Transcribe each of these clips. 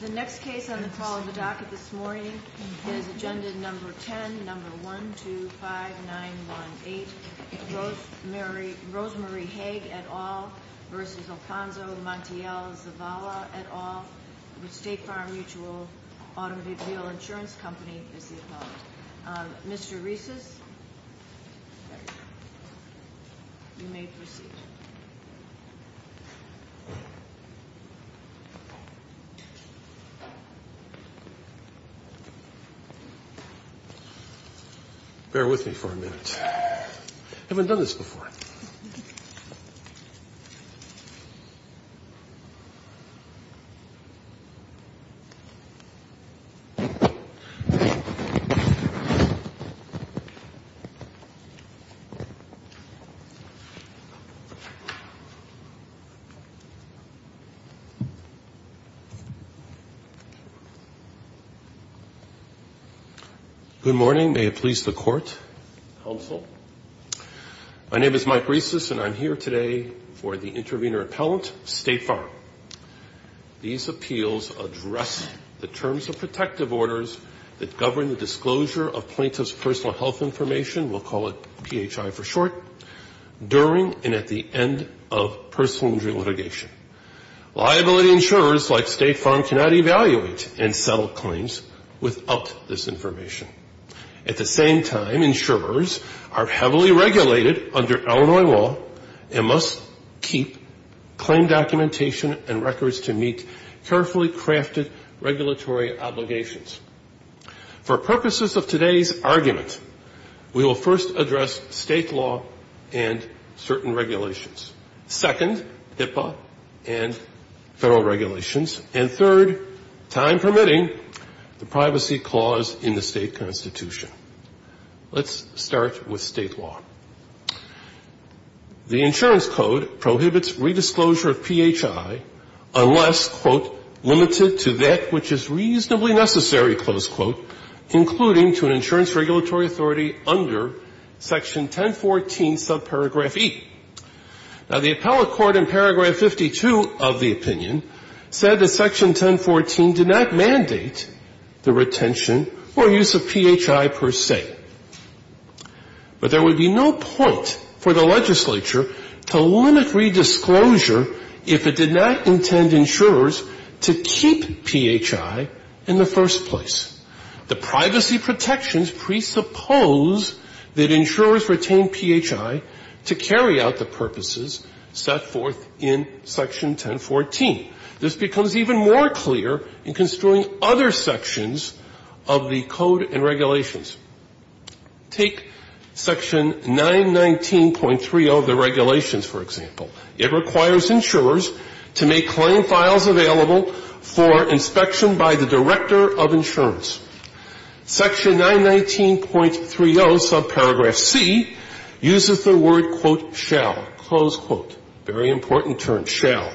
The next case on the call of the docket this morning is agenda number 10, number 1, 2, 5, 9, 1, 8, Rosemarie Haag et al. v. Alfonso Montiel Zavala et al., with State Farm Mutual Automobile Insurance Company as the appellant. Mr. Reeses, you may proceed. Bear with me for a minute. I haven't done this before. Good morning. May it please the Court. Counsel. My name is Mike Reeses, and I'm here today for the intervener appellant, State Farm. These appeals address the terms of protective orders that govern the disclosure of plaintiff's personal health information, we'll call it PHI for short, during and at the end of personal injury litigation. Liability insurers like State Farm cannot evaluate and settle claims without this information. At the same time, insurers are heavily regulated under Illinois law and must keep claim documentation and records to meet carefully crafted regulatory obligations. For purposes of today's argument, we will first address state law and certain regulations. Second, HIPAA and federal regulations. And third, time permitting, the privacy clause in the state constitution. Let's start with state law. The insurance code prohibits redisclosure of PHI unless, quote, limited to that which is reasonably necessary, close quote, including to an insurance regulatory authority under section 1014 subparagraph E. Now, the appellate court in paragraph 52 of the opinion said that section 1014 did not mandate the retention or use of PHI per se. But there would be no point for the legislature to limit redisclosure if it did not intend insurers to keep PHI in the first place. The privacy protections presuppose that insurers retain PHI to carry out the purposes set forth in section 1014. This becomes even more clear in construing other sections of the code and regulations. Take section 919.3 of the regulations, for example. It requires insurers to make claim files available for inspection by the director of insurance. Section 919.30 subparagraph C uses the word, quote, shall, close quote, very important term, shall.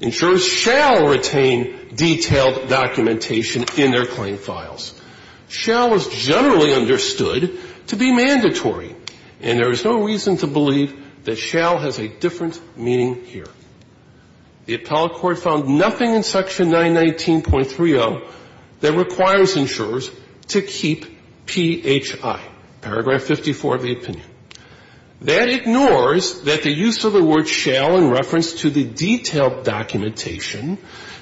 Insurers shall retain detailed documentation in their claim files. Shall is generally understood to be mandatory, and there is no reason to believe that shall has a different meaning here. The appellate court found nothing in section 919.30 that requires insurers to keep PHI, paragraph 54 of the opinion. That ignores that the use of the word shall in reference to the detailed documentation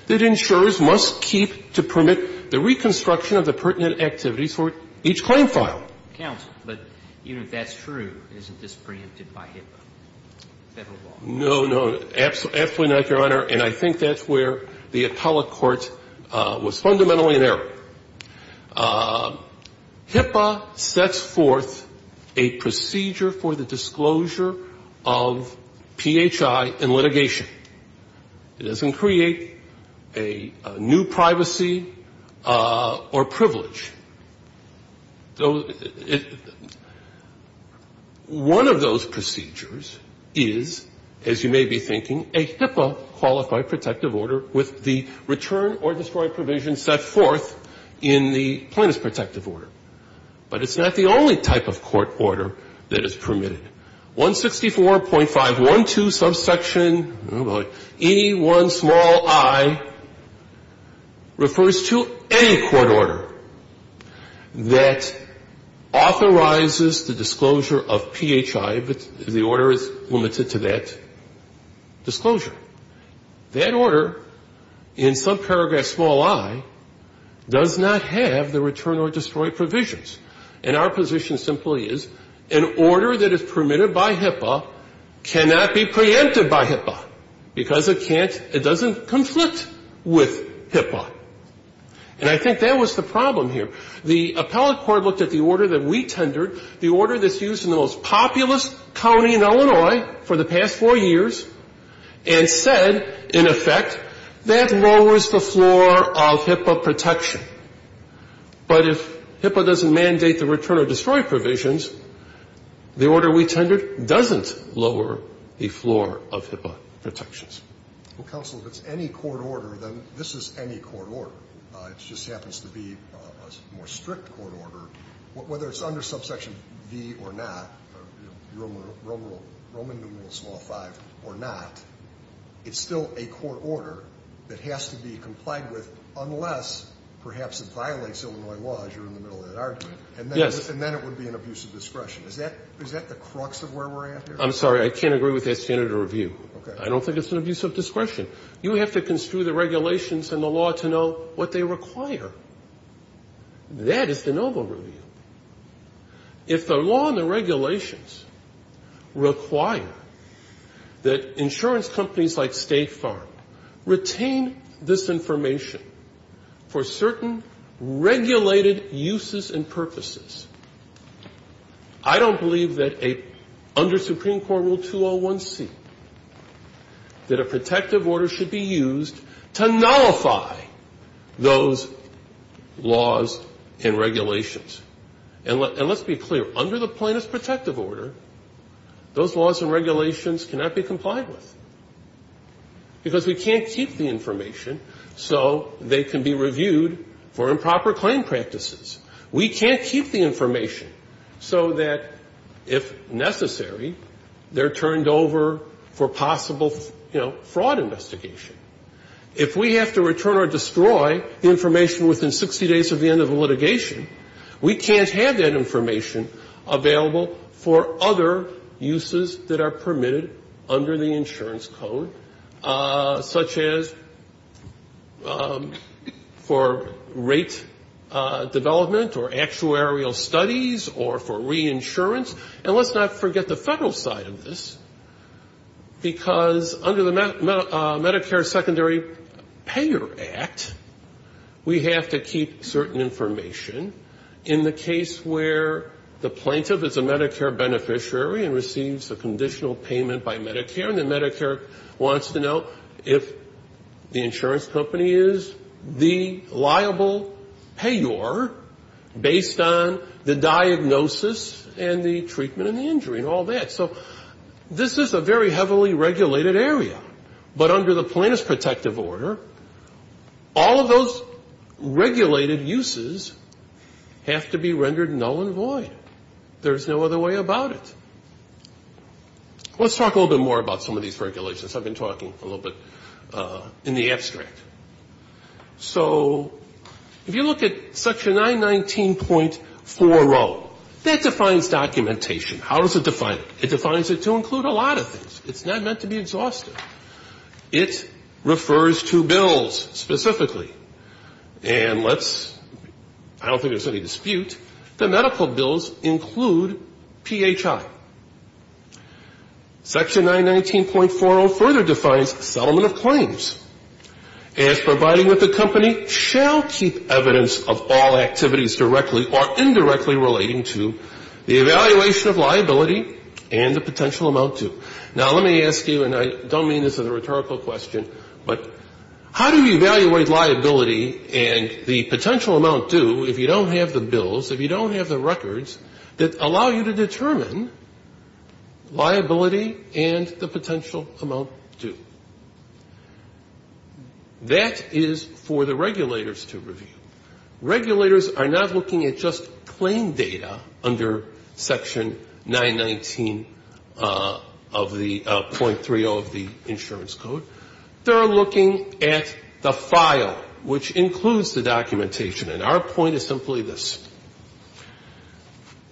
that insurers must keep to permit the reconstruction of the pertinent activities for each claim file. And I think that's where the appellate court was fundamentally in error. HIPAA sets forth a procedure for the disclosure of PHI in litigation. It doesn't create a new privacy or privilege. One of those procedures is, as you may be thinking, a HIPAA-qualified protective order with the return or destroyed provision set forth in the plaintiff's protective order. But it's not the only type of court order that is permitted. 164.512 subsection E1 small i refers to any court order that, authorizes the disclosure of PHI, but the order is limited to that disclosure. That order in subparagraph small i does not have the return or destroyed provisions. And our position simply is an order that is permitted by HIPAA cannot be preempted by HIPAA because it can't – it doesn't conflict with HIPAA. And I think that was the problem here. The appellate court looked at the order that we tendered, the order that's used in the most populous county in Illinois for the past four years, and said, in effect, that lowers the floor of HIPAA protection. But if HIPAA doesn't mandate the return or destroyed provisions, the order we tendered doesn't lower the floor of HIPAA protections. Scalia. Well, counsel, if it's any court order, then this is any court order. It just happens to be a more strict court order. Whether it's under subsection V or not, Roman numerals law 5 or not, it's still a court order that has to be complied with unless, perhaps, it violates Illinois law, as you're in the middle of that argument. And then it would be an abuse of discretion. Is that the crux of where we're at here? I'm sorry. I can't agree with that standard of review. Okay. I don't think it's an abuse of discretion. You have to construe the regulations and the law to know what they require. That is the noble review. If the law and the regulations require that insurance companies like State Farm retain this information for certain regulated uses and purposes, I don't believe that under Supreme Court Rule 201C that a protective order should be used to nullify those laws and regulations. And let's be clear. Under the plaintiff's protective order, those laws and regulations cannot be complied with because we can't keep the information so they can be reviewed for improper claim practices. We can't keep the information so that, if necessary, they're turned over for possible, you know, fraud investigation. If we have to return or destroy information within 60 days of the end of the litigation, we can't have that information available for other uses that are permitted under the actuarial studies or for reinsurance. And let's not forget the federal side of this, because under the Medicare Secondary Payor Act, we have to keep certain information. In the case where the plaintiff is a Medicare beneficiary and receives a conditional payment by Medicare, and then Medicare wants to know if the insurance company is the liable payer based on the diagnosis and the treatment and the injury and all that. So this is a very heavily regulated area. But under the plaintiff's protective order, all of those regulated uses have to be rendered null and void. There's no other way about it. Let's talk a little bit more about some of these regulations. I've been talking a little bit in the abstract. So if you look at Section 919.40, that defines documentation. How does it define it? It defines it to include a lot of things. It's not meant to be exhaustive. It refers to bills specifically. And let's — I don't think there's any dispute. The medical bills include PHI. Section 919.40 further defines settlement of claims. As providing that the company shall keep evidence of all activities directly or indirectly relating to the evaluation of liability and the potential amount due. Now, let me ask you, and I don't mean this as a rhetorical question, but how do you evaluate liability and the potential amount due if you don't have the bills, if you don't have the records that allow you to determine liability and the potential amount due? That is for the regulators to review. Regulators are not looking at just claim data under Section 919.30 of the Insurance Code. They're looking at the file, which includes the documentation. And our point is simply this.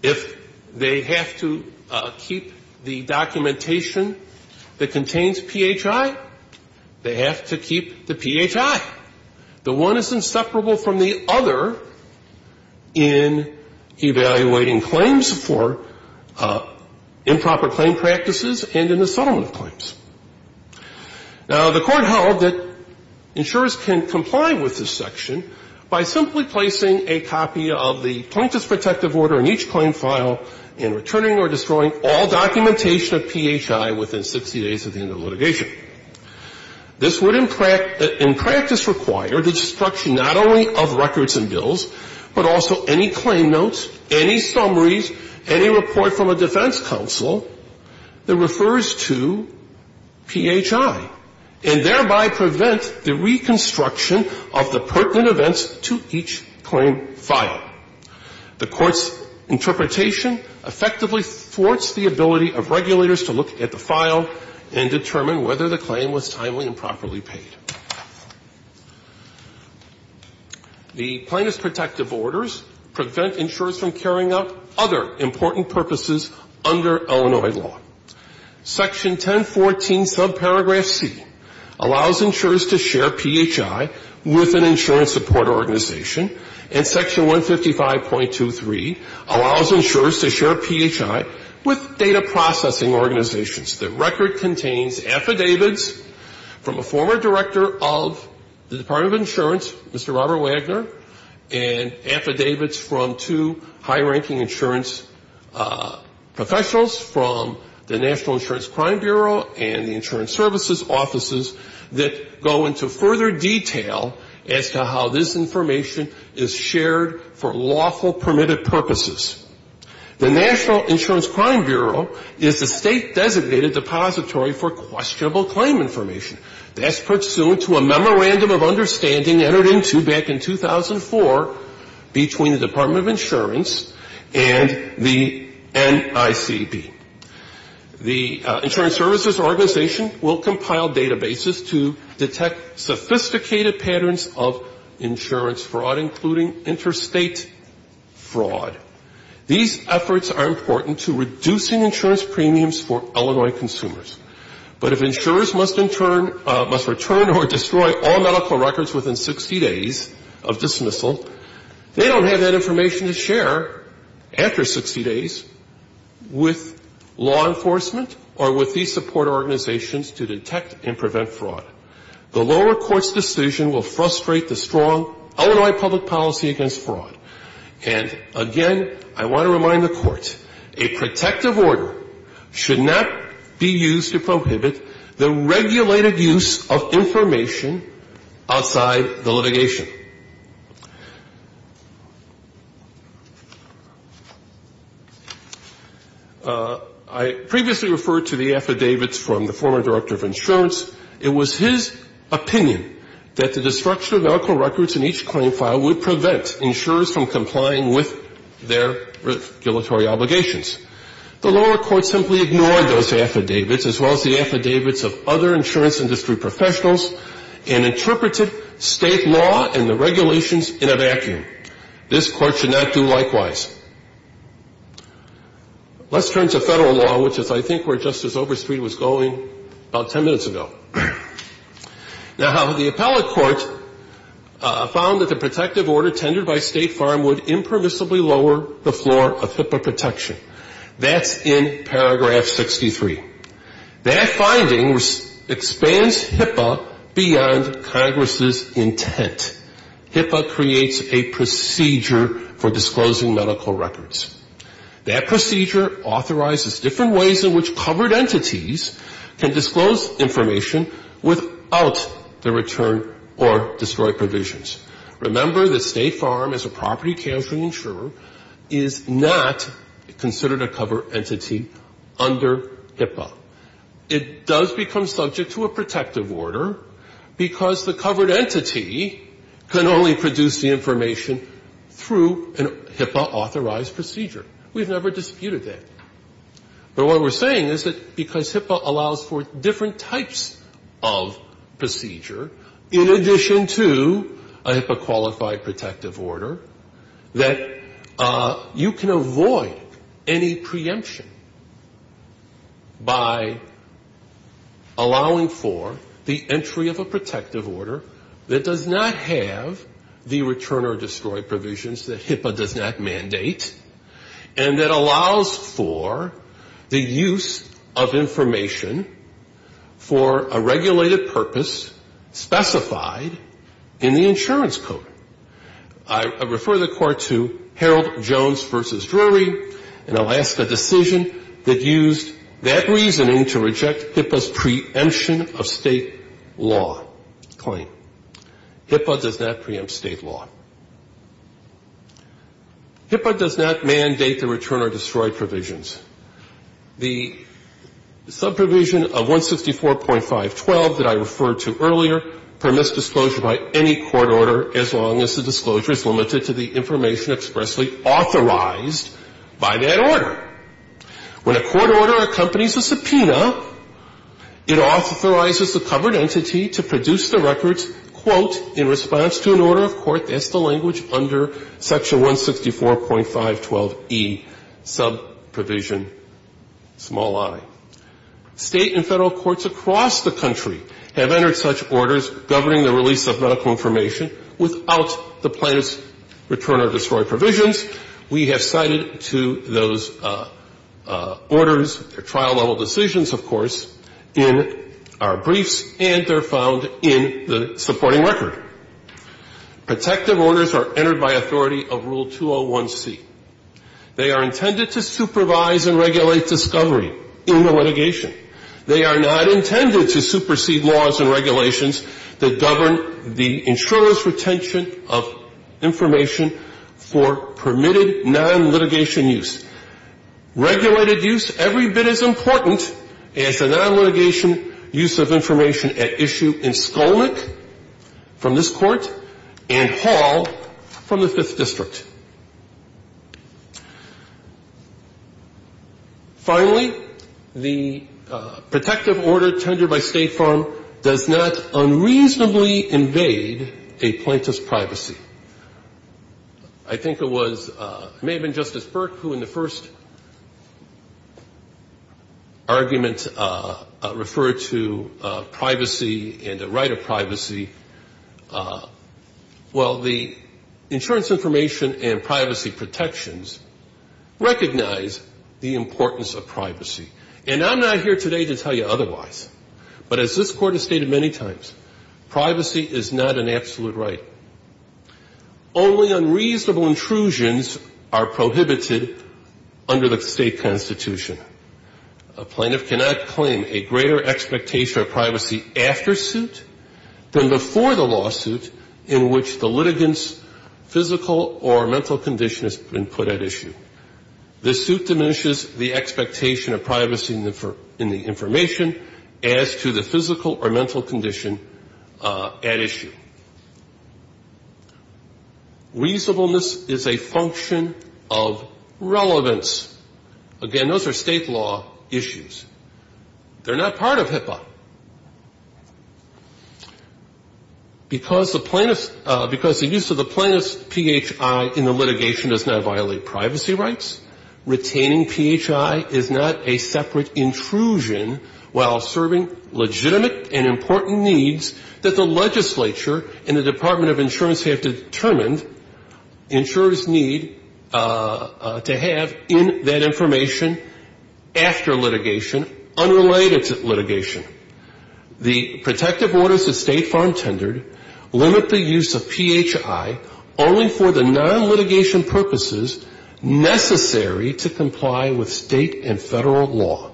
If they have to keep the documentation that contains PHI, they have to keep the PHI. The one is inseparable from the other in evaluating claims for improper claim practices and in the settlement of claims. Now, the Court held that insurers can comply with this section by simply placing a plaintiff's protective order in each claim file and returning or destroying all documentation of PHI within 60 days of the end of litigation. This would, in practice, require the destruction not only of records and bills, but also any claim notes, any summaries, any report from a defense counsel that refers to PHI, and thereby prevent the reconstruction of the pertinent events to each claim file. The Court's interpretation effectively thwarts the ability of regulators to look at the file and determine whether the claim was timely and properly paid. The plaintiff's protective orders prevent insurers from carrying out other important purposes under Illinois law. Section 1014, subparagraph C, allows insurers to share PHI with an insurance supporter organization. And section 155.23 allows insurers to share PHI with data processing organizations. The record contains affidavits from a former director of the Department of Insurance, Mr. Robert Wagner, and affidavits from two high-ranking insurance professionals from the National Insurance Crime Bureau and the insurance services offices that go into further detail as to how this information is shared for lawful permitted purposes. The National Insurance Crime Bureau is the state-designated depository for questionable claim information. That's pursuant to a memorandum of understanding entered into back in 2004 between the Department of Insurance and the NICB. The insurance services organization will compile databases to detect sophisticated patterns of insurance fraud, including interstate fraud. These efforts are important to reducing insurance premiums for Illinois consumers. But if insurers must return or destroy all medical records within 60 days of dismissal, they don't have that information to share after 60 days with law enforcement or with these support organizations to detect and prevent fraud. The lower court's decision will frustrate the strong Illinois public policy against fraud. And, again, I want to remind the court, a protective order should not be used to prohibit the regulated use of information outside the litigation. I previously referred to the affidavits from the former director of insurance. It was his opinion that the destruction of medical records in each claim file would prevent insurers from complying with their regulatory obligations. The lower court simply ignored those affidavits as well as the affidavits of other insurance industry professionals and interpreted state law and the regulations in a vacuum. This court should not do likewise. Let's turn to federal law, which is, I think, where Justice Overstreet was going about 10 minutes ago. Now, the appellate court found that the protective order tendered by State Farm would impermissibly lower the floor of HIPAA protection. That's in paragraph 63. That finding expands HIPAA beyond Congress's intent. HIPAA creates a procedure for disclosing medical records. That procedure authorizes different ways in which covered entities can disclose information without the return or destroyed provisions. Remember that State Farm, as a property counseling insurer, is not considered a covered entity under HIPAA. It does become subject to a protective order because the covered entity can only produce the information through a HIPAA-authorized procedure. We've never disputed that. But what we're saying is that because HIPAA allows for different types of procedure, in addition to a HIPAA- qualified protective order, that you can avoid any preemption by allowing for the entry of a protective order that does not have the return or destroyed provisions that HIPAA does not mandate, and that allows for the use of information for a regulated purpose specified in the insurance code. I refer the Court to Harold Jones v. Drury in Alaska decision that used that reasoning to reject HIPAA's preemption of State law claim. HIPAA does not preempt State law. HIPAA does not mandate the return or destroyed provisions. The subprovision of 164.512 that I referred to earlier permits disclosure by any court order as long as the disclosure is limited to the information expressly authorized by that order. When a court order accompanies a subpoena, it authorizes the covered entity to produce the records, quote, in response to an order of court, that's the language under section 164.512E, subprovision, small i. State and Federal courts across the country have entered such orders governing the release of medical information without the plaintiff's return or destroyed provisions. We have cited to those orders, their trial-level decisions, of course, in our briefs, and they're found in the supporting record. Protective orders are entered by authority of Rule 201C. They are intended to supervise and regulate discovery in the litigation. They are not intended to supersede laws and regulations that govern the insurer's retention of information for permitted non-litigation use. Regulated use, every bit as important as the non-litigation use of information at issue in Skolnick, from this Court, and Hall, from the Fifth District. Finally, the protective order tendered by State Farm does not unreasonably invade a plaintiff's privacy. I think it was – it may have been Justice Burke who, in the first instance, argument referred to privacy and the right of privacy. Well, the insurance information and privacy protections recognize the importance of privacy. And I'm not here today to tell you otherwise. But as this Court has stated many times, privacy is not an absolute right. Only unreasonable intrusions are prohibited under the state constitution. A plaintiff cannot claim a greater expectation of privacy after suit than before the lawsuit in which the litigant's physical or mental condition has been put at issue. This suit diminishes the expectation of privacy in the information as to the physical or mental condition at issue. Reasonableness is a function of relevance. Again, those are state law issues. They're not part of HIPAA. Because the use of the plaintiff's PHI in the litigation does not violate privacy rights, retaining PHI is not a separate intrusion while serving legitimate and important needs that the legislature and the Department of Insurance have determined insurers need to have in that information after litigation unrelated to litigation. The protective orders that State Farm tendered limit the use of PHI only for the non-litigation purposes necessary to comply with state and federal law.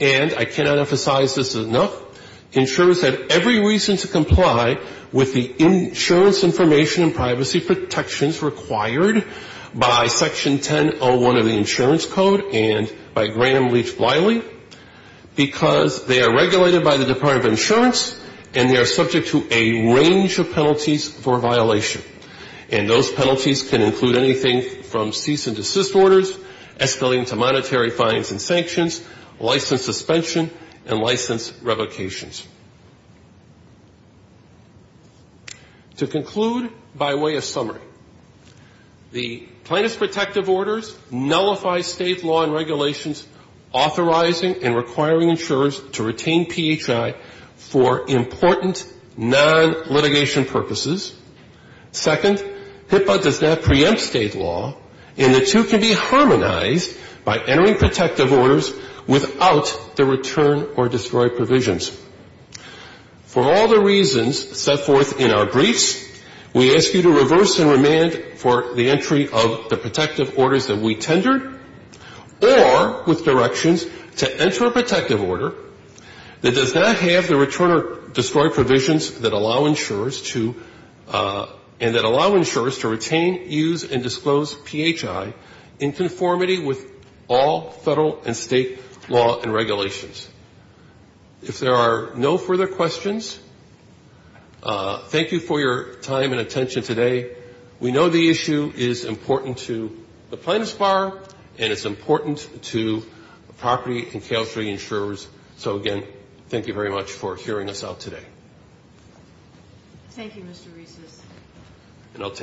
And I cannot emphasize this enough, insurers have every reason to comply with the insurance information and privacy protections required by Section 1001 of the Insurance Code and by Graham Leach Bliley, because they are regulated by the Department of Insurance and they are subject to a range of penalties for violation. And those penalties can include anything from cease and desist orders, escalating to monetary fines and sanctions, license suspension and license revocations. To conclude by way of summary, the plaintiff's protective orders nullify state law and regulations authorizing and requiring insurers to retain PHI for important non-litigation purposes, second, HIPAA does not preempt state law and the two can be harmonized by entering protective orders without the return or destroy provisions. For all the reasons set forth in our briefs, we ask you to reverse and remand for the entry of the protective orders that we tendered or with directions to enter a protective order that does not have the return or destroy provisions and that allow insurers to retain, use and disclose PHI in conformity with all federal and state law and regulations. If there are no further questions, thank you for your time and attention today. We know the issue is important to the plaintiff's bar and it's important to property and Caltree insurers. So again, thank you very much for hearing us out today. Thank you, Mr. Reeses. Mr.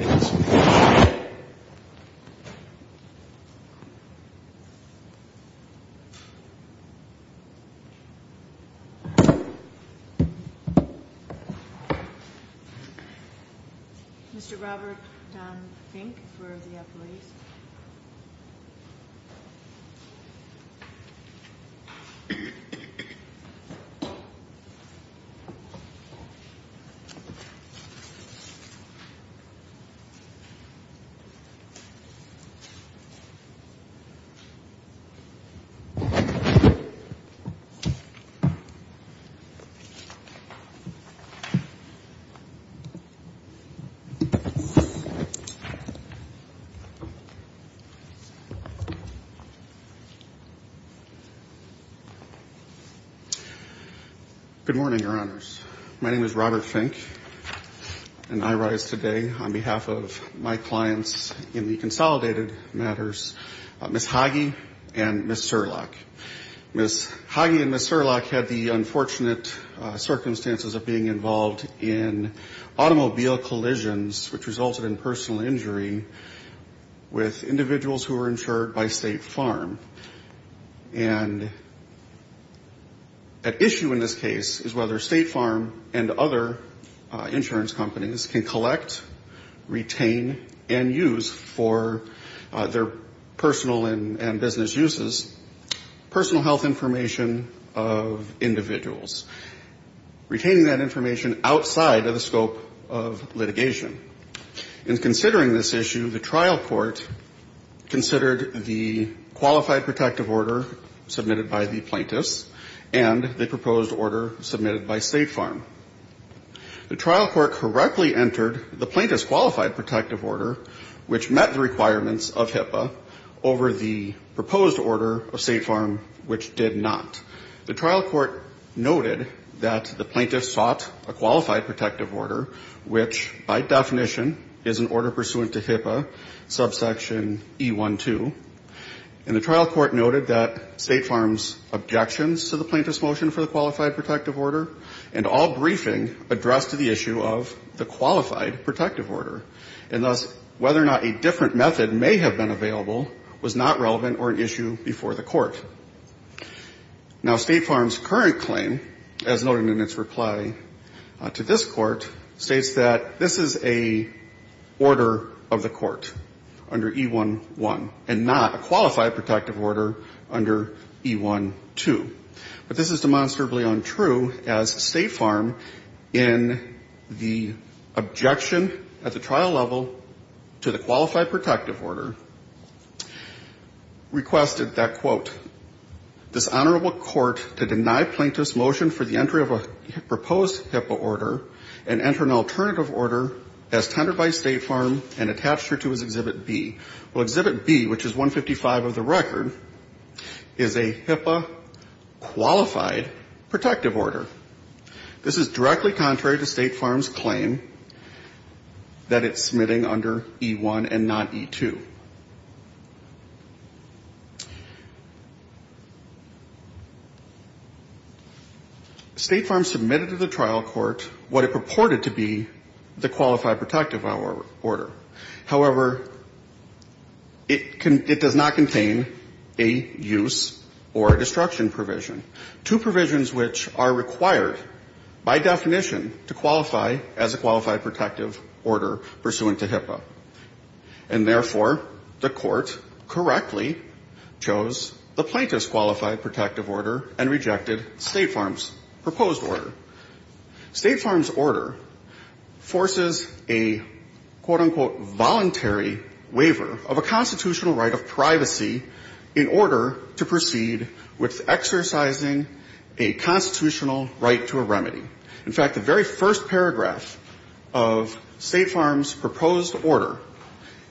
Robert Don Fink for the appellees. Thank you. Good morning, Your Honors. My name is Robert Fink and I rise today on behalf of my clients in the consolidated matters, Ms. Hage and Ms. Serlach. Ms. Hage and Ms. Serlach had the unfortunate circumstances of being involved in automobile collisions which resulted in personal injury with individuals who were insured by State Farm. And at issue in this case is whether State Farm and other insurance companies can collect, retain and use for their personal and business uses, personal health information of individuals. Retaining that information outside of the scope of litigation. In considering this issue, the trial court considered the qualified protective order submitted by the plaintiffs and the proposed order submitted by State Farm. The trial court correctly entered the plaintiff's qualified protective order which met the requirements of HIPAA over the proposed order of State Farm which did not. The trial court noted that the plaintiffs sought a qualified protective order which by definition is an order pursuant to HIPAA subsection E-1-2. And the trial court noted that State Farm's objections to the plaintiff's motion for the qualified protective order and all briefing addressed the issue of the qualified protective order. And thus whether or not a different method may have been available was not relevant or an issue before the court. Now State Farm's current claim as noted in its reply to this court states that this is an order of the court under E-1-1 and not a qualified protective order under E-1-2. But this is demonstrably untrue as State Farm in the objection at the trial level to the qualified protective order requested that, quote, this honorable court to deny plaintiff's motion for the entry of a proposed HIPAA order and enter an alternative order as tendered by State Farm and attached her to as Exhibit B. Well, Exhibit B, which is 155 of the record, is a HIPAA qualified protective order. This is directly contrary to State Farm's claim that it's submitting under E-1 and not E-2. State Farm submitted to the trial court what it purported to be the qualified protective order. However, it does not contain a use or a destruction provision. Two provisions which are required by definition to qualify as a qualified protective order pursuant to HIPAA. And therefore, the court correctly chose the plaintiff's qualified protective order and rejected State Farm's proposed order. State Farm's order forces a, quote, unquote, voluntary waiver of a constitutional right of privacy in order to proceed with exercising a constitutional right to a remedy. In fact, the very first paragraph of State Farm's proposed order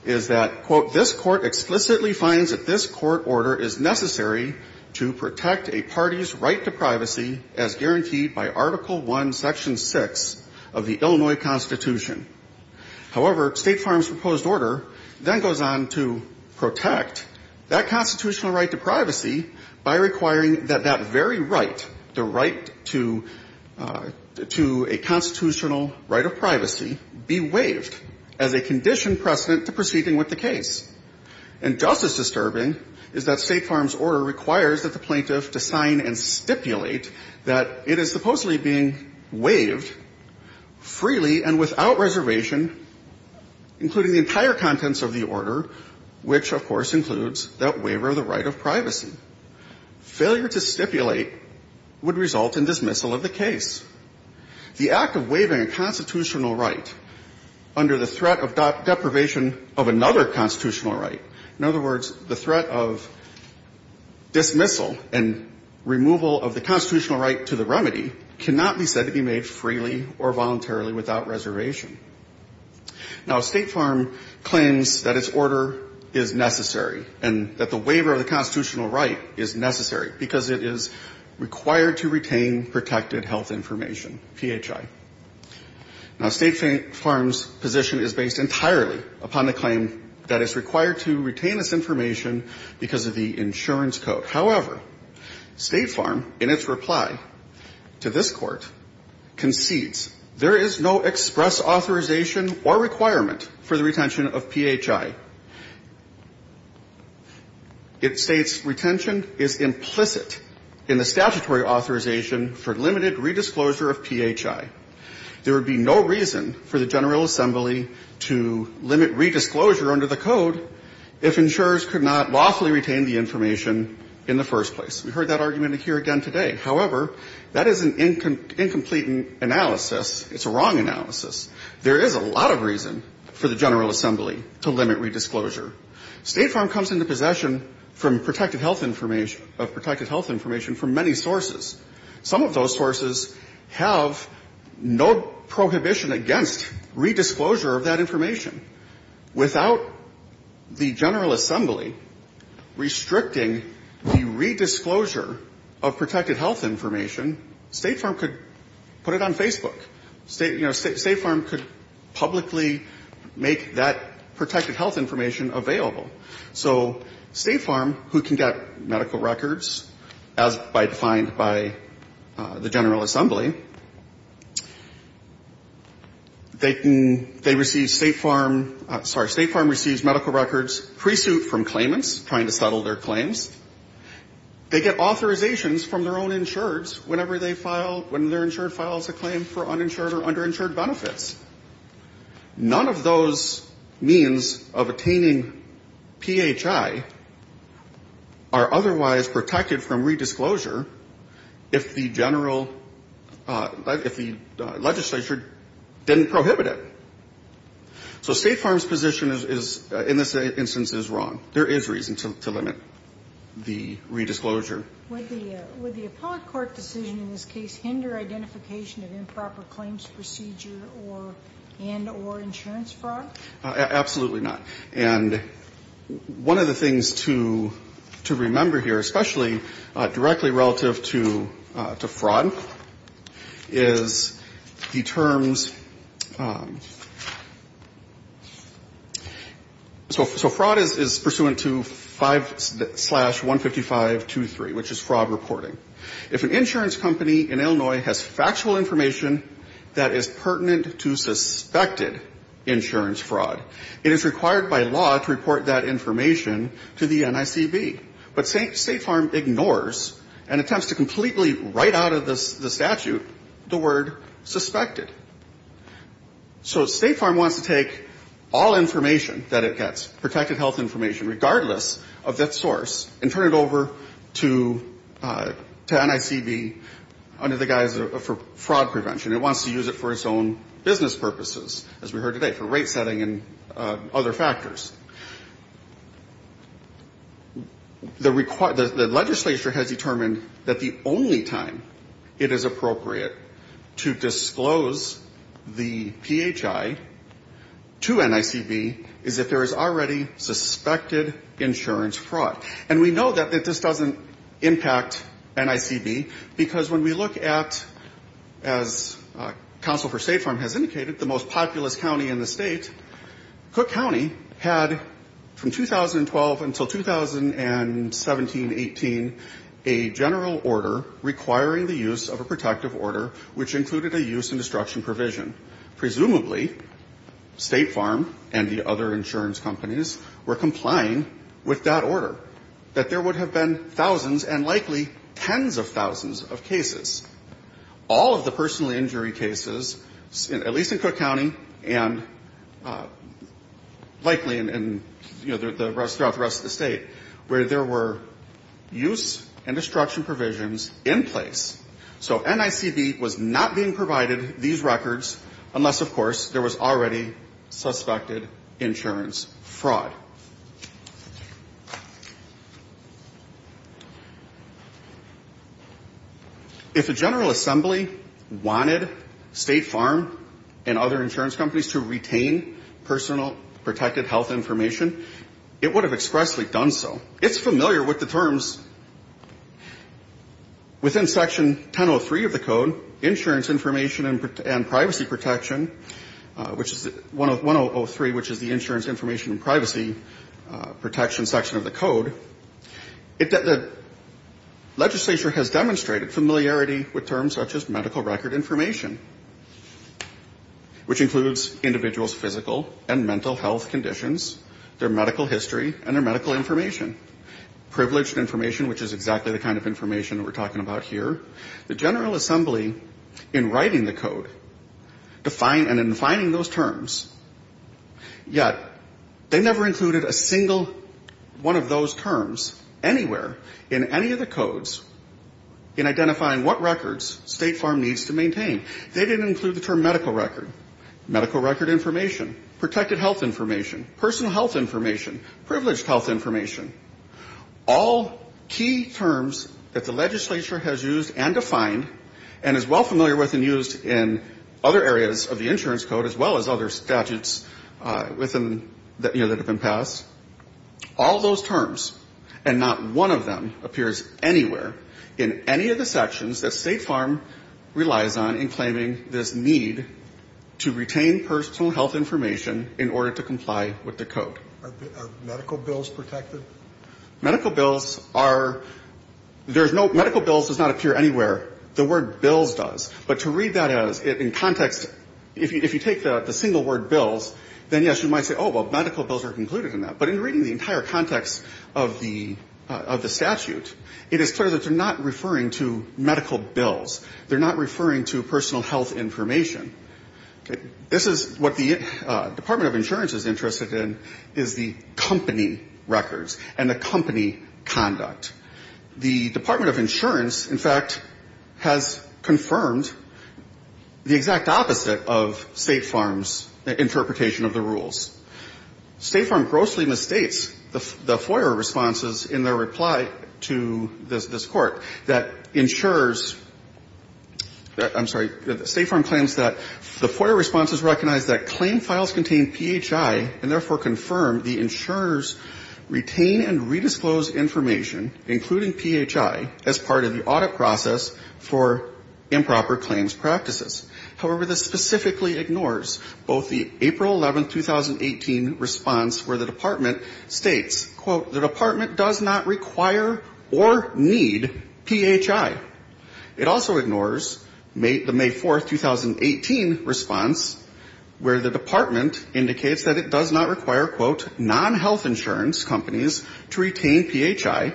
is that, quote, this court explicitly finds that this court order is necessary to protect a party's right to privacy as guaranteed by Article I, Section 6 of the Illinois Constitution. However, State Farm's proposed order then goes on to protect that constitutional right to privacy by requiring that that very right, the right to a constitutional right of privacy, be waived as a conditioned precedent to proceeding with the case. And just as disturbing is that State Farm's order requires that the plaintiff to sign and stipulate that it is supposedly being waived freely and without reservation, including the entire contents of the order, which, of course, includes that waiver of the right of privacy. Failure to stipulate would result in dismissal of the case. The act of waiving a constitutional right under the threat of deprivation of another constitutional right, in other words, the threat of dismissal and removal of the constitutional right to the remedy, cannot be said to be made freely or voluntarily without reservation. The fact of the matter is that the waiver is necessary, and that the waiver of the constitutional right is necessary, because it is required to retain protected health information, PHI. Now, State Farm's position is based entirely upon the claim that it's required to retain its information because of the insurance code. However, State Farm, in its reply to this claim, states that PHI, it states retention is implicit in the statutory authorization for limited re-disclosure of PHI. There would be no reason for the General Assembly to limit re-disclosure under the code if insurers could not lawfully retain the information in the first place. We heard that argument here again today. However, that is an incomplete analysis. It's a wrong analysis. There is a lot of reason for the General Assembly to limit re-disclosure of PHI. State Farm comes into possession from protected health information, of protected health information from many sources. Some of those sources have no prohibition against re-disclosure of that information. Without the General Assembly restricting the re-disclosure of protected health information, State Farm could put it on Facebook. State, you know, there's a lot of protected health information available. So State Farm, who can get medical records, as defined by the General Assembly, they can, they receive State Farm, sorry, State Farm receives medical records pre-suit from claimants, trying to settle their claims. They get authorizations from their own insurers whenever they file, when their insurer files a claim for uninsured or underinsured benefits. None of those means that the General Assembly would have any reasons of attaining PHI are otherwise protected from re-disclosure if the general, if the legislature didn't prohibit it. So State Farm's position is, in this instance, is wrong. There is reason to limit the re-disclosure. Would the appellate court decision in this case hinder identification of improper claims procedure and or insurance fraud? Absolutely not. And one of the things to remember here, especially directly relative to fraud, is the terms, so fraud is pursuant to 5 slash 15523, which is fraud reporting. If an insurance company in Illinois has factual information that is pertinent to suspected insurance fraud, it is required by law to report that information to the NICB. But State Farm ignores and attempts to completely write out of the statute the word suspected. So State Farm wants to take all information that it gets, protected health information, regardless of its source, and turn it over to NICB under the guise of fraud prevention. It wants to use it for its own business purposes, as we heard today, for rate setting and other factors. The legislature has determined that the only time it is appropriate to disclose the PHI to NICB is if there is already suspected insurance fraud. And we know that this doesn't impact NICB, because when we look at, as Council for State Farm has indicated, the most populous county in the state, Cook County had from 2012 until 2017-18 a general order requiring the use of a protective order, which included a use and destruction provision. Presumably, State Farm and the other insurance companies were complying with that order, that there would have been thousands and likely tens of thousands of cases. All of the personal injury cases, at least in Cook County, and likely in, you know, throughout the rest of the state, where there were use and destruction provisions in place. So NICB was not being provided these records unless, of course, there was insurance fraud. If a general assembly wanted State Farm and other insurance companies to retain personal protected health information, it would have expressly done so. It's familiar with the terms within Section 1003 of the code, insurance information and privacy protection section of the code. The legislature has demonstrated familiarity with terms such as medical record information, which includes individuals' physical and mental health conditions, their medical history, and their medical information. Privileged information, which is exactly the kind of information we're talking about here. The general assembly, in writing the code, defined and in defining those terms, yet, the general assembly, in writing the code, they never included a single one of those terms anywhere in any of the codes in identifying what records State Farm needs to maintain. They didn't include the term medical record, medical record information, protected health information, personal health information, privileged health information. All key terms that the legislature has used and defined, and is well familiar with and used in other areas of the insurance code, as well as other statutes, within NICB and other states that have been passed, all those terms, and not one of them appears anywhere in any of the sections that State Farm relies on in claiming this need to retain personal health information in order to comply with the code. Are medical bills protected? Medical bills are, there's no, medical bills does not appear anywhere. The word bills does. But to read that in context, if you take the single word bills, then yes, you might say, oh, well, medical bills are included in that. But in reading the entire context of the statute, it is clear that they're not referring to medical bills. They're not referring to personal health information. This is what the Department of Insurance is interested in, is the company records and the company conduct. The Department of Insurance, in fact, has confirmed the exact opposite of the company conduct. State Farm's interpretation of the rules. State Farm grossly misstates the FOIA responses in their reply to this court that insurers, I'm sorry, State Farm claims that the FOIA responses recognize that claim files contain PHI, and therefore confirm the insurers retain and redisclose information, including PHI, as part of the audit process for the company. State Farm ignores both the April 11, 2018 response where the department states, quote, the department does not require or need PHI. It also ignores the May 4, 2018 response where the department indicates that it does not require, quote, non-health insurance companies to retain PHI,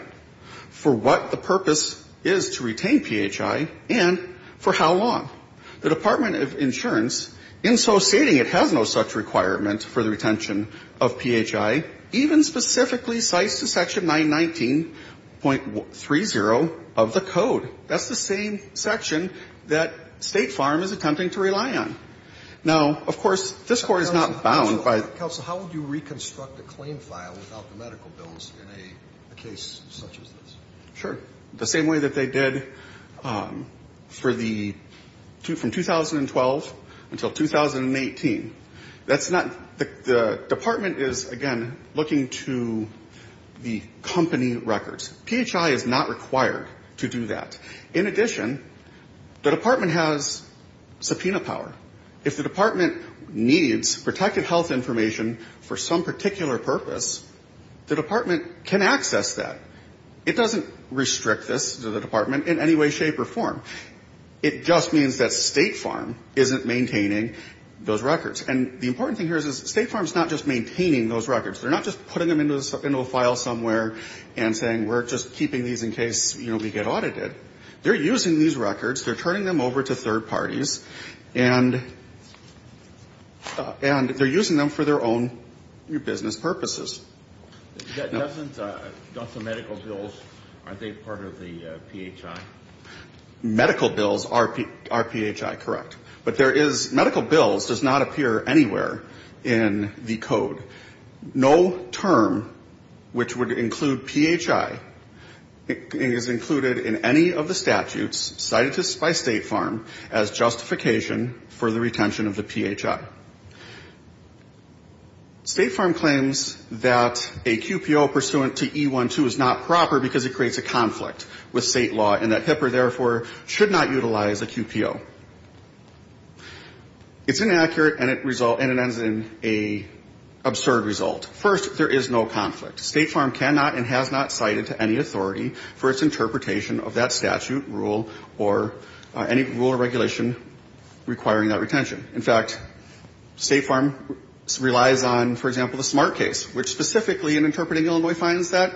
for what the purpose is to retain PHI, and for how long. The Department of Insurance, in so stating it has no such requirement for the retention of PHI, even specifically cites the section 919.30 of the code. That's the same section that State Farm is attempting to rely on. Now, of course, this court is not bound by the ---- Counsel, how would you reconstruct a claim file without the medical bills in a case such as this? Sure. The same way that they did for the ---- from 2012 until 2018. That's not ---- the department is, again, looking to the company records. PHI is not required to do that. In addition, the department has subpoena power. If the department needs protected health information for some particular purpose, the department can access that. It doesn't need to restrict this to the department in any way, shape, or form. It just means that State Farm isn't maintaining those records. And the important thing here is State Farm is not just maintaining those records. They're not just putting them into a file somewhere and saying we're just keeping these in case, you know, we get audited. They're using these records, they're turning them over to third parties, and they're using them for their own business purposes. That doesn't ---- don't the medical bills, aren't they part of the PHI? Medical bills are PHI, correct. But there is ---- medical bills does not appear anywhere in the code. No term which would include PHI is included in any of the statutes cited by State Farm as justification for the retention of the PHI. State Farm claims that a QPO pursuant to E-1-2 is not proper because it creates a conflict with state law and that HIPAA therefore should not utilize a QPO. It's inaccurate and it results in an absurd result. First, there is no conflict. State Farm cannot and has not cited to any authority for its interpretation of that statute, rule, or any rule or statute. State Farm relies on, for example, the Smart Case, which specifically in interpreting Illinois finds that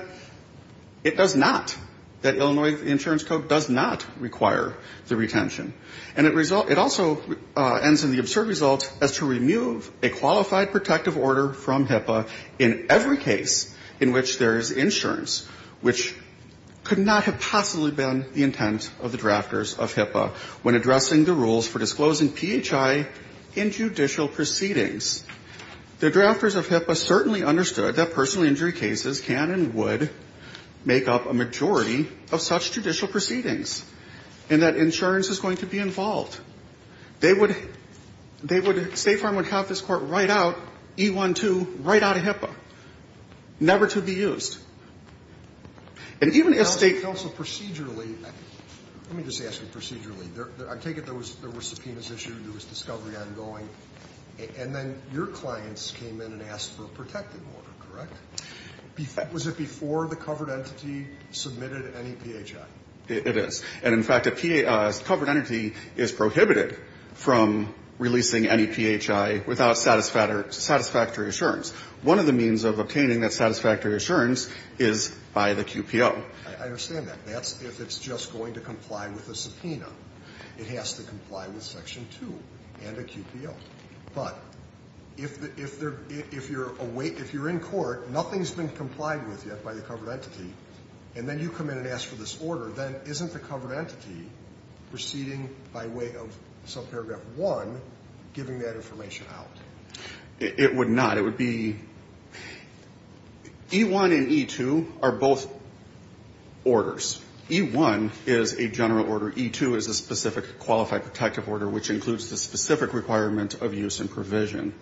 it does not, that Illinois insurance code does not require the retention. And it also ends in the absurd result as to remove a qualified protective order from HIPAA in every case in which there is insurance, which could not have possibly been the intent of the drafters of HIPAA when addressing the rules for disclosing PHI in judicial proceedings. The drafters of HIPAA certainly understood that personal injury cases can and would make up a majority of such judicial proceedings and that insurance is going to be involved. They would, State Farm would have this court write out E-1-2 right out of HIPAA, never to be used. And even if State Farm... Alito, procedurally, let me just ask you procedurally. I take it there were subpoenas issued, there was discovery ongoing. And then your clients came in and asked for a protective order, correct? Was it before the covered entity submitted any PHI? It is. And in fact, a covered entity is prohibited from releasing any PHI without satisfactory assurance. One of the means of obtaining that satisfactory assurance is by the QPO. I understand that. That's if it's just going to comply with a covered entity. But if you're in court, nothing's been complied with yet by the covered entity, and then you come in and ask for this order, then isn't the covered entity proceeding by way of subparagraph 1 giving that information out? It would not. It would be... E-1 and E-2 are both orders. E-1 is a general order. E-2 is a specific qualified protective order, which includes the specific requirement of use and provision,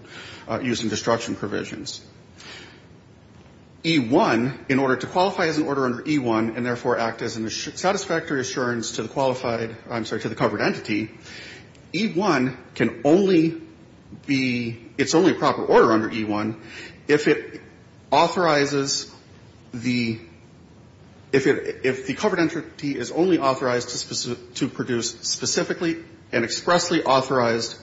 use and destruction provisions. E-1, in order to qualify as an order under E-1 and therefore act as a satisfactory assurance to the qualified, I'm sorry, to the covered entity, E-1 can only be, it's only a proper order under E-1 if it authorizes the, if it, if the covered entity is only authorized to produce specifically and expressly authorized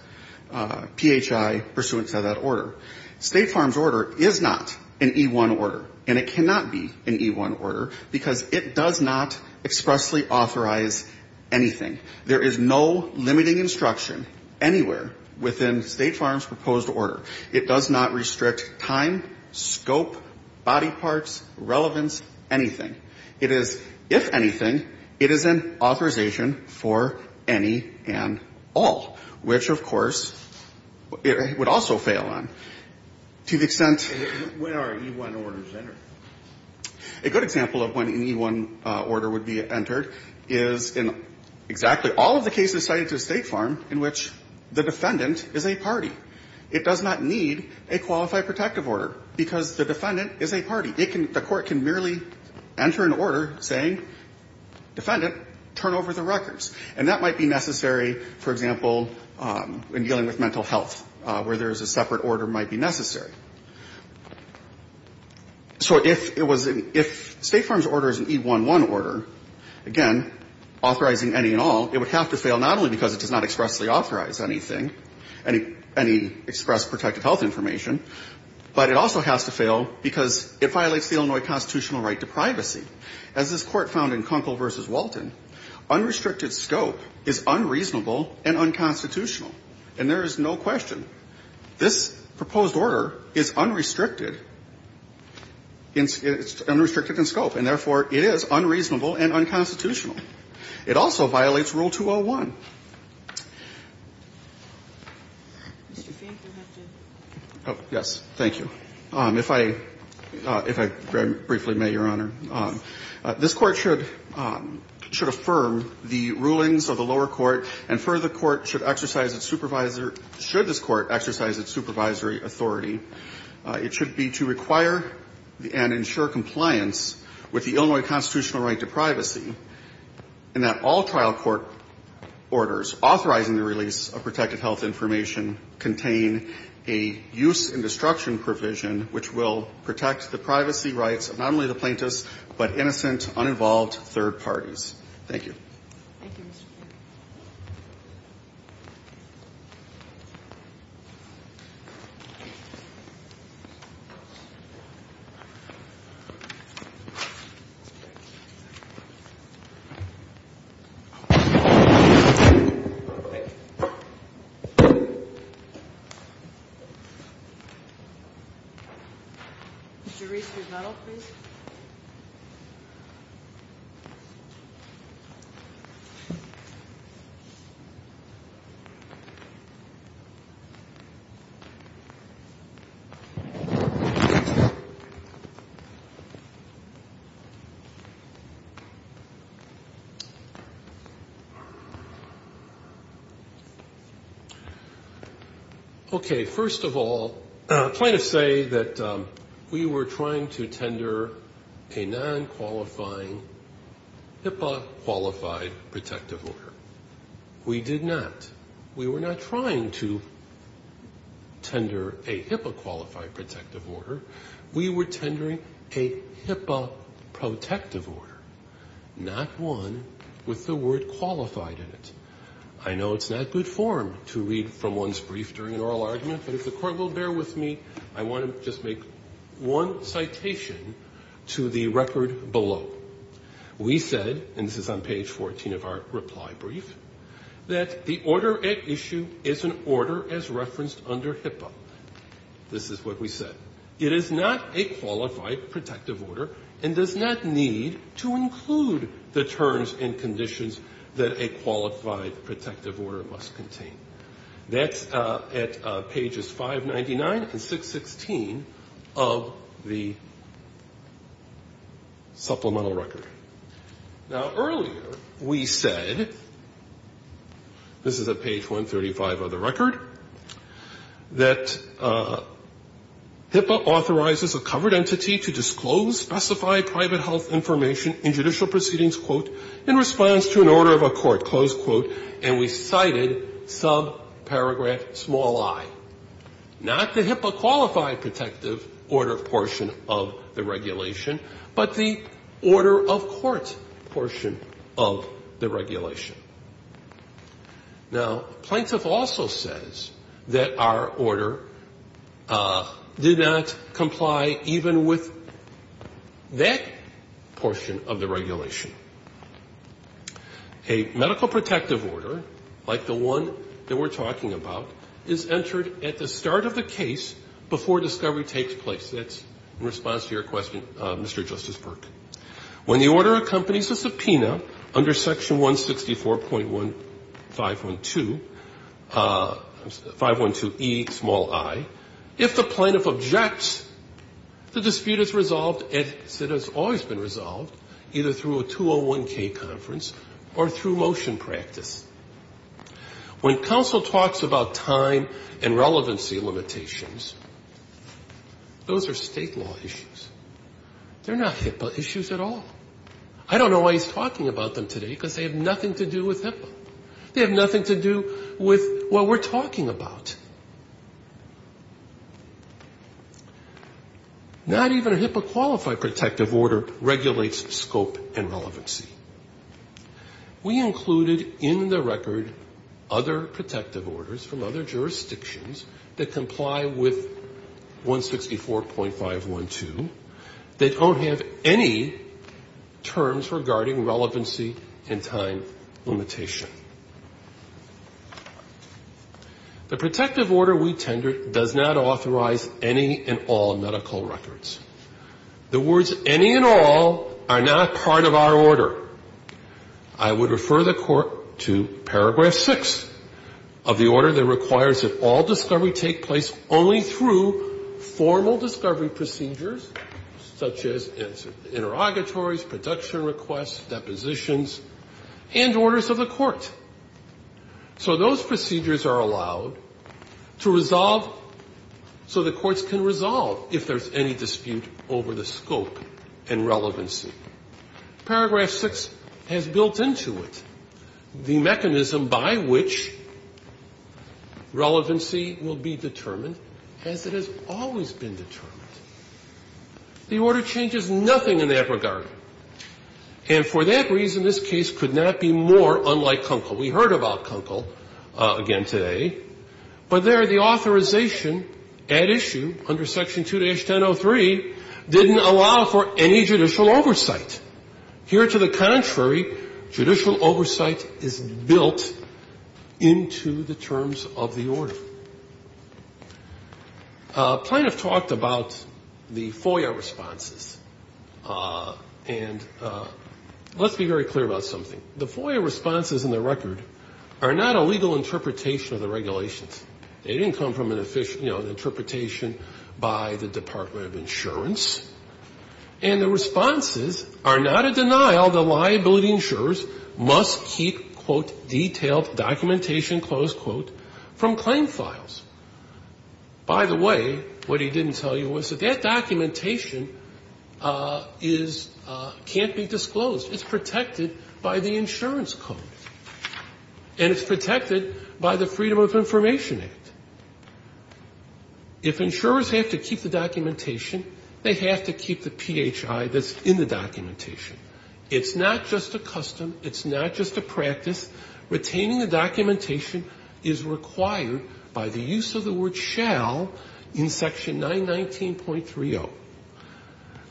PHI pursuant to that order. State Farm's order is not an E-1 order, and it cannot be an E-1 order, because it does not expressly authorize anything. There is no limiting instruction anywhere within State Farm's proposed order. It does not restrict time, scope, body parts, relevance, anything. It is, if anything, it is an authorization for any and all, which, of course, it would also fail on. To the extent... Kennedy. When are E-1 orders entered? A good example of when an E-1 order would be entered is in exactly all of the cases cited to State Farm in which the defendant is a party. It does not need a qualified protective order, because the defendant is a party. It can, the defendant is a party, enter an order saying, defendant, turn over the records. And that might be necessary, for example, in dealing with mental health, where there is a separate order might be necessary. So if it was, if State Farm's order is an E-1-1 order, again, authorizing any and all, it would have to fail not only because it does not expressly authorize anything, any express protective health information, but it also has to fail because it violates the Illinois Constitutional right to privacy. As this Court found in Kunkel v. Walton, unrestricted scope is unreasonable and unconstitutional. And there is no question. This proposed order is unrestricted in scope. And therefore, it is unreasonable and unconstitutional. It also violates Rule 201. Mr. Fink, you have to. Oh, yes. Thank you. If I, if I very briefly may, Your Honor, this Court should, should affirm the rulings of the lower court, and further, the Court should exercise its supervisor, should this Court exercise its supervisory authority. It should be to require and ensure compliance with the Illinois Constitutional right to privacy, and that all trial court orders authorizing the release of protective health information contain a use and destruction provision, which will protect the privacy rights of not only the plaintiffs, but innocent, uninvolved third parties. Thank you. Thank you, Mr. Fink. Mr. Reese, your medal, please. Okay. First of all, plaintiffs say that we were trying to tender a non-qualifying HIPAA-qualified protective order. We did not. We were not trying to tender a HIPAA-qualified protective order. We were tendering a HIPAA-protective order, not one with the word protected, but one with the word HIPAA-qualified in it. I know it is not good form to read from one's brief during an oral argument, but if the Court will bear with me, I want to just make one citation to the record below. We said, and this is on page 14 of our reply brief, that the order at issue is an order as referenced under HIPAA. This is what we said. It is not a qualified, protective order and does not need to include the terms and conditions that a qualified, protective order must contain. That's at pages 599 and 616 of the supplemental record. Now, earlier we said, this is at page 135 of the record, that HIPAA authorizes a covered entity to do a review of the HIPAA-qualified protective order. We said, and this is on page 14 of our reply brief, that HIPAA authorizes a covered entity to disclose specified private health information in judicial proceedings, quote, in response to an order of a court, close quote, and we cited sub-paragraph small i, not the HIPAA-qualified protective order portion of the regulation, but the order of court portion of the regulation. Now, plaintiff also says that our order did not comply even with HIPAA-qualified protective order. That portion of the regulation. A medical protective order, like the one that we're talking about, is entered at the start of the case before discovery takes place. That's in response to your question, Mr. Justice Burke. When the order accompanies a subpoena under section 164.1512, 512E, small i, if the plaintiff objects, the dispute is resolved as it has always been resolved, either through a 201K conference or through motion practice. When counsel talks about time and relevancy limitations, those are State law issues. They're not HIPAA issues at all. I don't know why he's talking about them today because they have nothing to do with HIPAA. They have nothing to do with what we're talking about. Not even a HIPAA-qualified protective order regulates scope and relevancy. We included in the record other protective orders from other jurisdictions that comply with 164.1512. They don't have any terms regarding relevancy and time limitation. The protective order we tendered does not authorize any and all medical records. The words any and all are not part of our order. I would refer the Court to paragraph 6 of the order that requires that all discovery take place only through formal discovery procedures, such as interrogatories, production requests, depositions, and orders of the court. So those procedures are allowed to resolve so the courts can resolve if there's any dispute over the scope and relevancy. Paragraph 6 has built into it the mechanism by which relevancy will be determined as it has always been determined. The order changes nothing in that regard. And for that reason, this case could not be more unlike Kunkel. We heard about Kunkel again today. But there, the authorization at issue under Section 2-1003 didn't allow for any judicial oversight. Here, to the contrary, judicial oversight is built into the terms of the order. Plaintiff talked about the FOIA responses. And let's be very clear about something. The FOIA responses in the record are not a legal interpretation of the regulations. They didn't come from an interpretation by the Department of Insurance. And the responses are not a denial that liability insurers must keep, quote, detailed documentation, close quote, from claim files. By the way, what he didn't tell you was that that documentation can't be disclosed. It's protected by the insurance code. And it's protected by the Freedom of Information Act. If insurers have to keep the documentation, they have to keep the PHI that's in the documentation. It's not just a custom. It's not just a practice. Retaining the documentation is required by the use of the word shall in Section 919.30.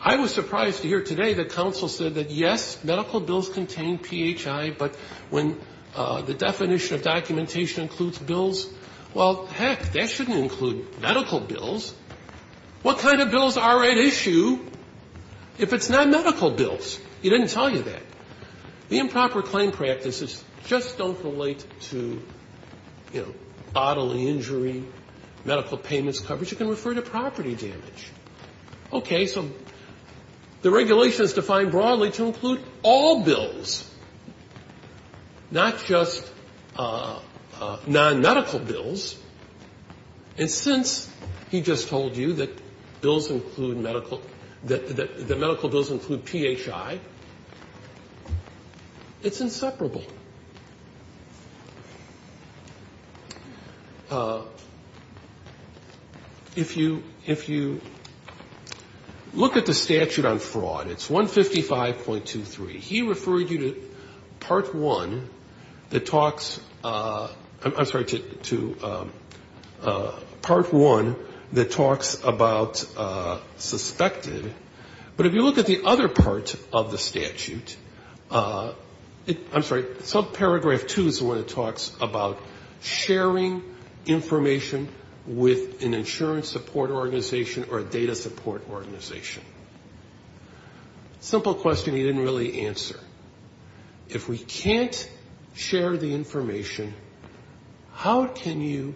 I was surprised to hear today that counsel said that, yes, medical bills contain PHI, but when the definition of documentation includes bills, well, heck, that shouldn't include medical bills. What kind of bills are at issue if it's not medical bills? He didn't tell you that. The improper claim practices just don't relate to, you know, bodily injury, medical payments coverage. It can refer to property damage. Okay. So the regulation is defined broadly to include all bills, not just nonmedical bills. And since he just told you that bills include medical, that medical bills include PHI, it's inseparable. If you, if you, if you, if you, if you, if you, if you, if you, if you, if you look at the statute on fraud, it's 155.23. He referred you to Part 1 that talks, I'm sorry, to Part 1 that talks about suspected, but if you look at the other part of the statute, I'm sorry, subparagraph 2 is the one that talks about sharing information with an insurance support organization or a data support organization. Simple question he didn't really answer. If we can't share the information, how can you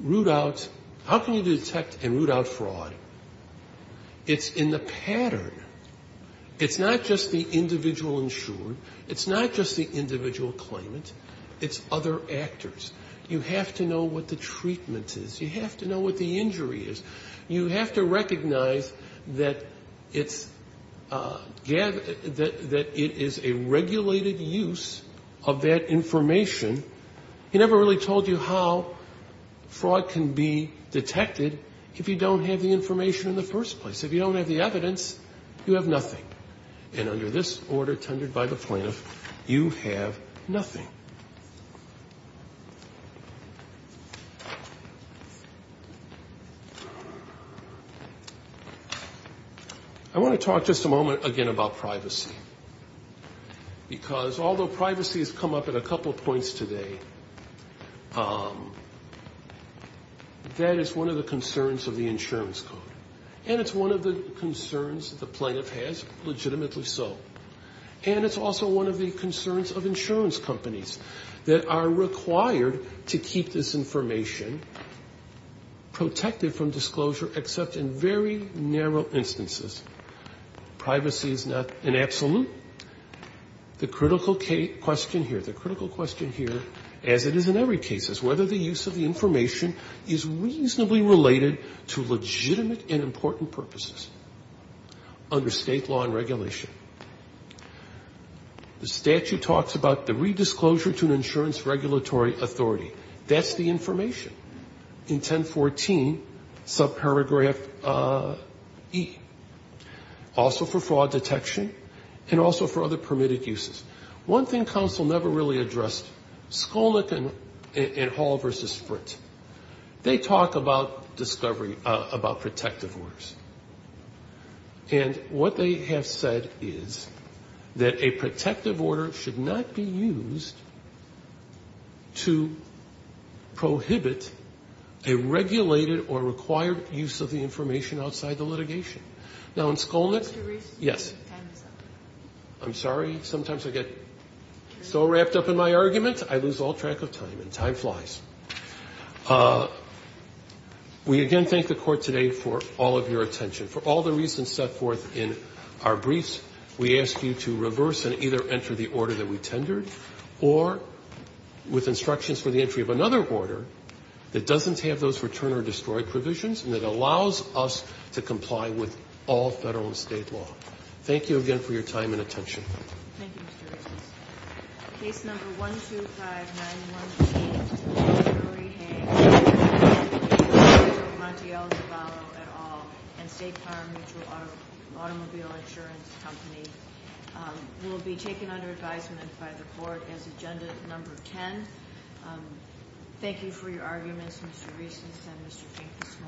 root out, how can you detect and root out fraud? It's in the pattern. It's not just the individual insured. It's not just the individual claimant. It's other actors. You have to know what the treatment is. You have to know what the injury is. You have to recognize that it's, that it is a regulated use of that information. He never really told you how fraud can be detected if you don't have the information in the first place. If you don't have the evidence, you have nothing. And under this order tendered by the plaintiff, you have nothing. I want to talk just a moment again about privacy. Because although privacy has come up at a couple of points today, that is one of the concerns of the insurance code. And it's one of the concerns the plaintiff has, legitimately so. And it's also one of the concerns of insurance companies that are required to keep this information protected from discrimination. And it's one of the concerns of the insurance company. And that is there is no redisclosure except in very narrow instances. Privacy is not an absolute. The critical question here, the critical question here, as it is in every case, is whether the use of the information is reasonably related to legitimate and important purposes under state law and regulation. The statute talks about the redisclosure to an insurance regulatory authority. That's the information in 1014, subparagraph E. Also for fraud detection and also for other permitted uses. One thing counsel never really addressed, Skolnick and Hall versus Sprint, they talk about discovery, about protective orders. And what they have said is that a protective order should not be used to protect the person who has been prosecuted. It should be used to prohibit a regulated or required use of the information outside the litigation. Now in Skolnick, yes. I'm sorry, sometimes I get so wrapped up in my argument, I lose all track of time and time flies. We again thank the court today for all of your attention. For all the reasons set forth in our briefs, we ask you to reverse and either enter the order that we tendered or with instructions for the entry of another order that doesn't have those return or destroyed provisions and that allows us to comply with all federal and state law. Thank you again for your time and attention. Thank you for your arguments, Mr. Reese and Mr. Fink this morning.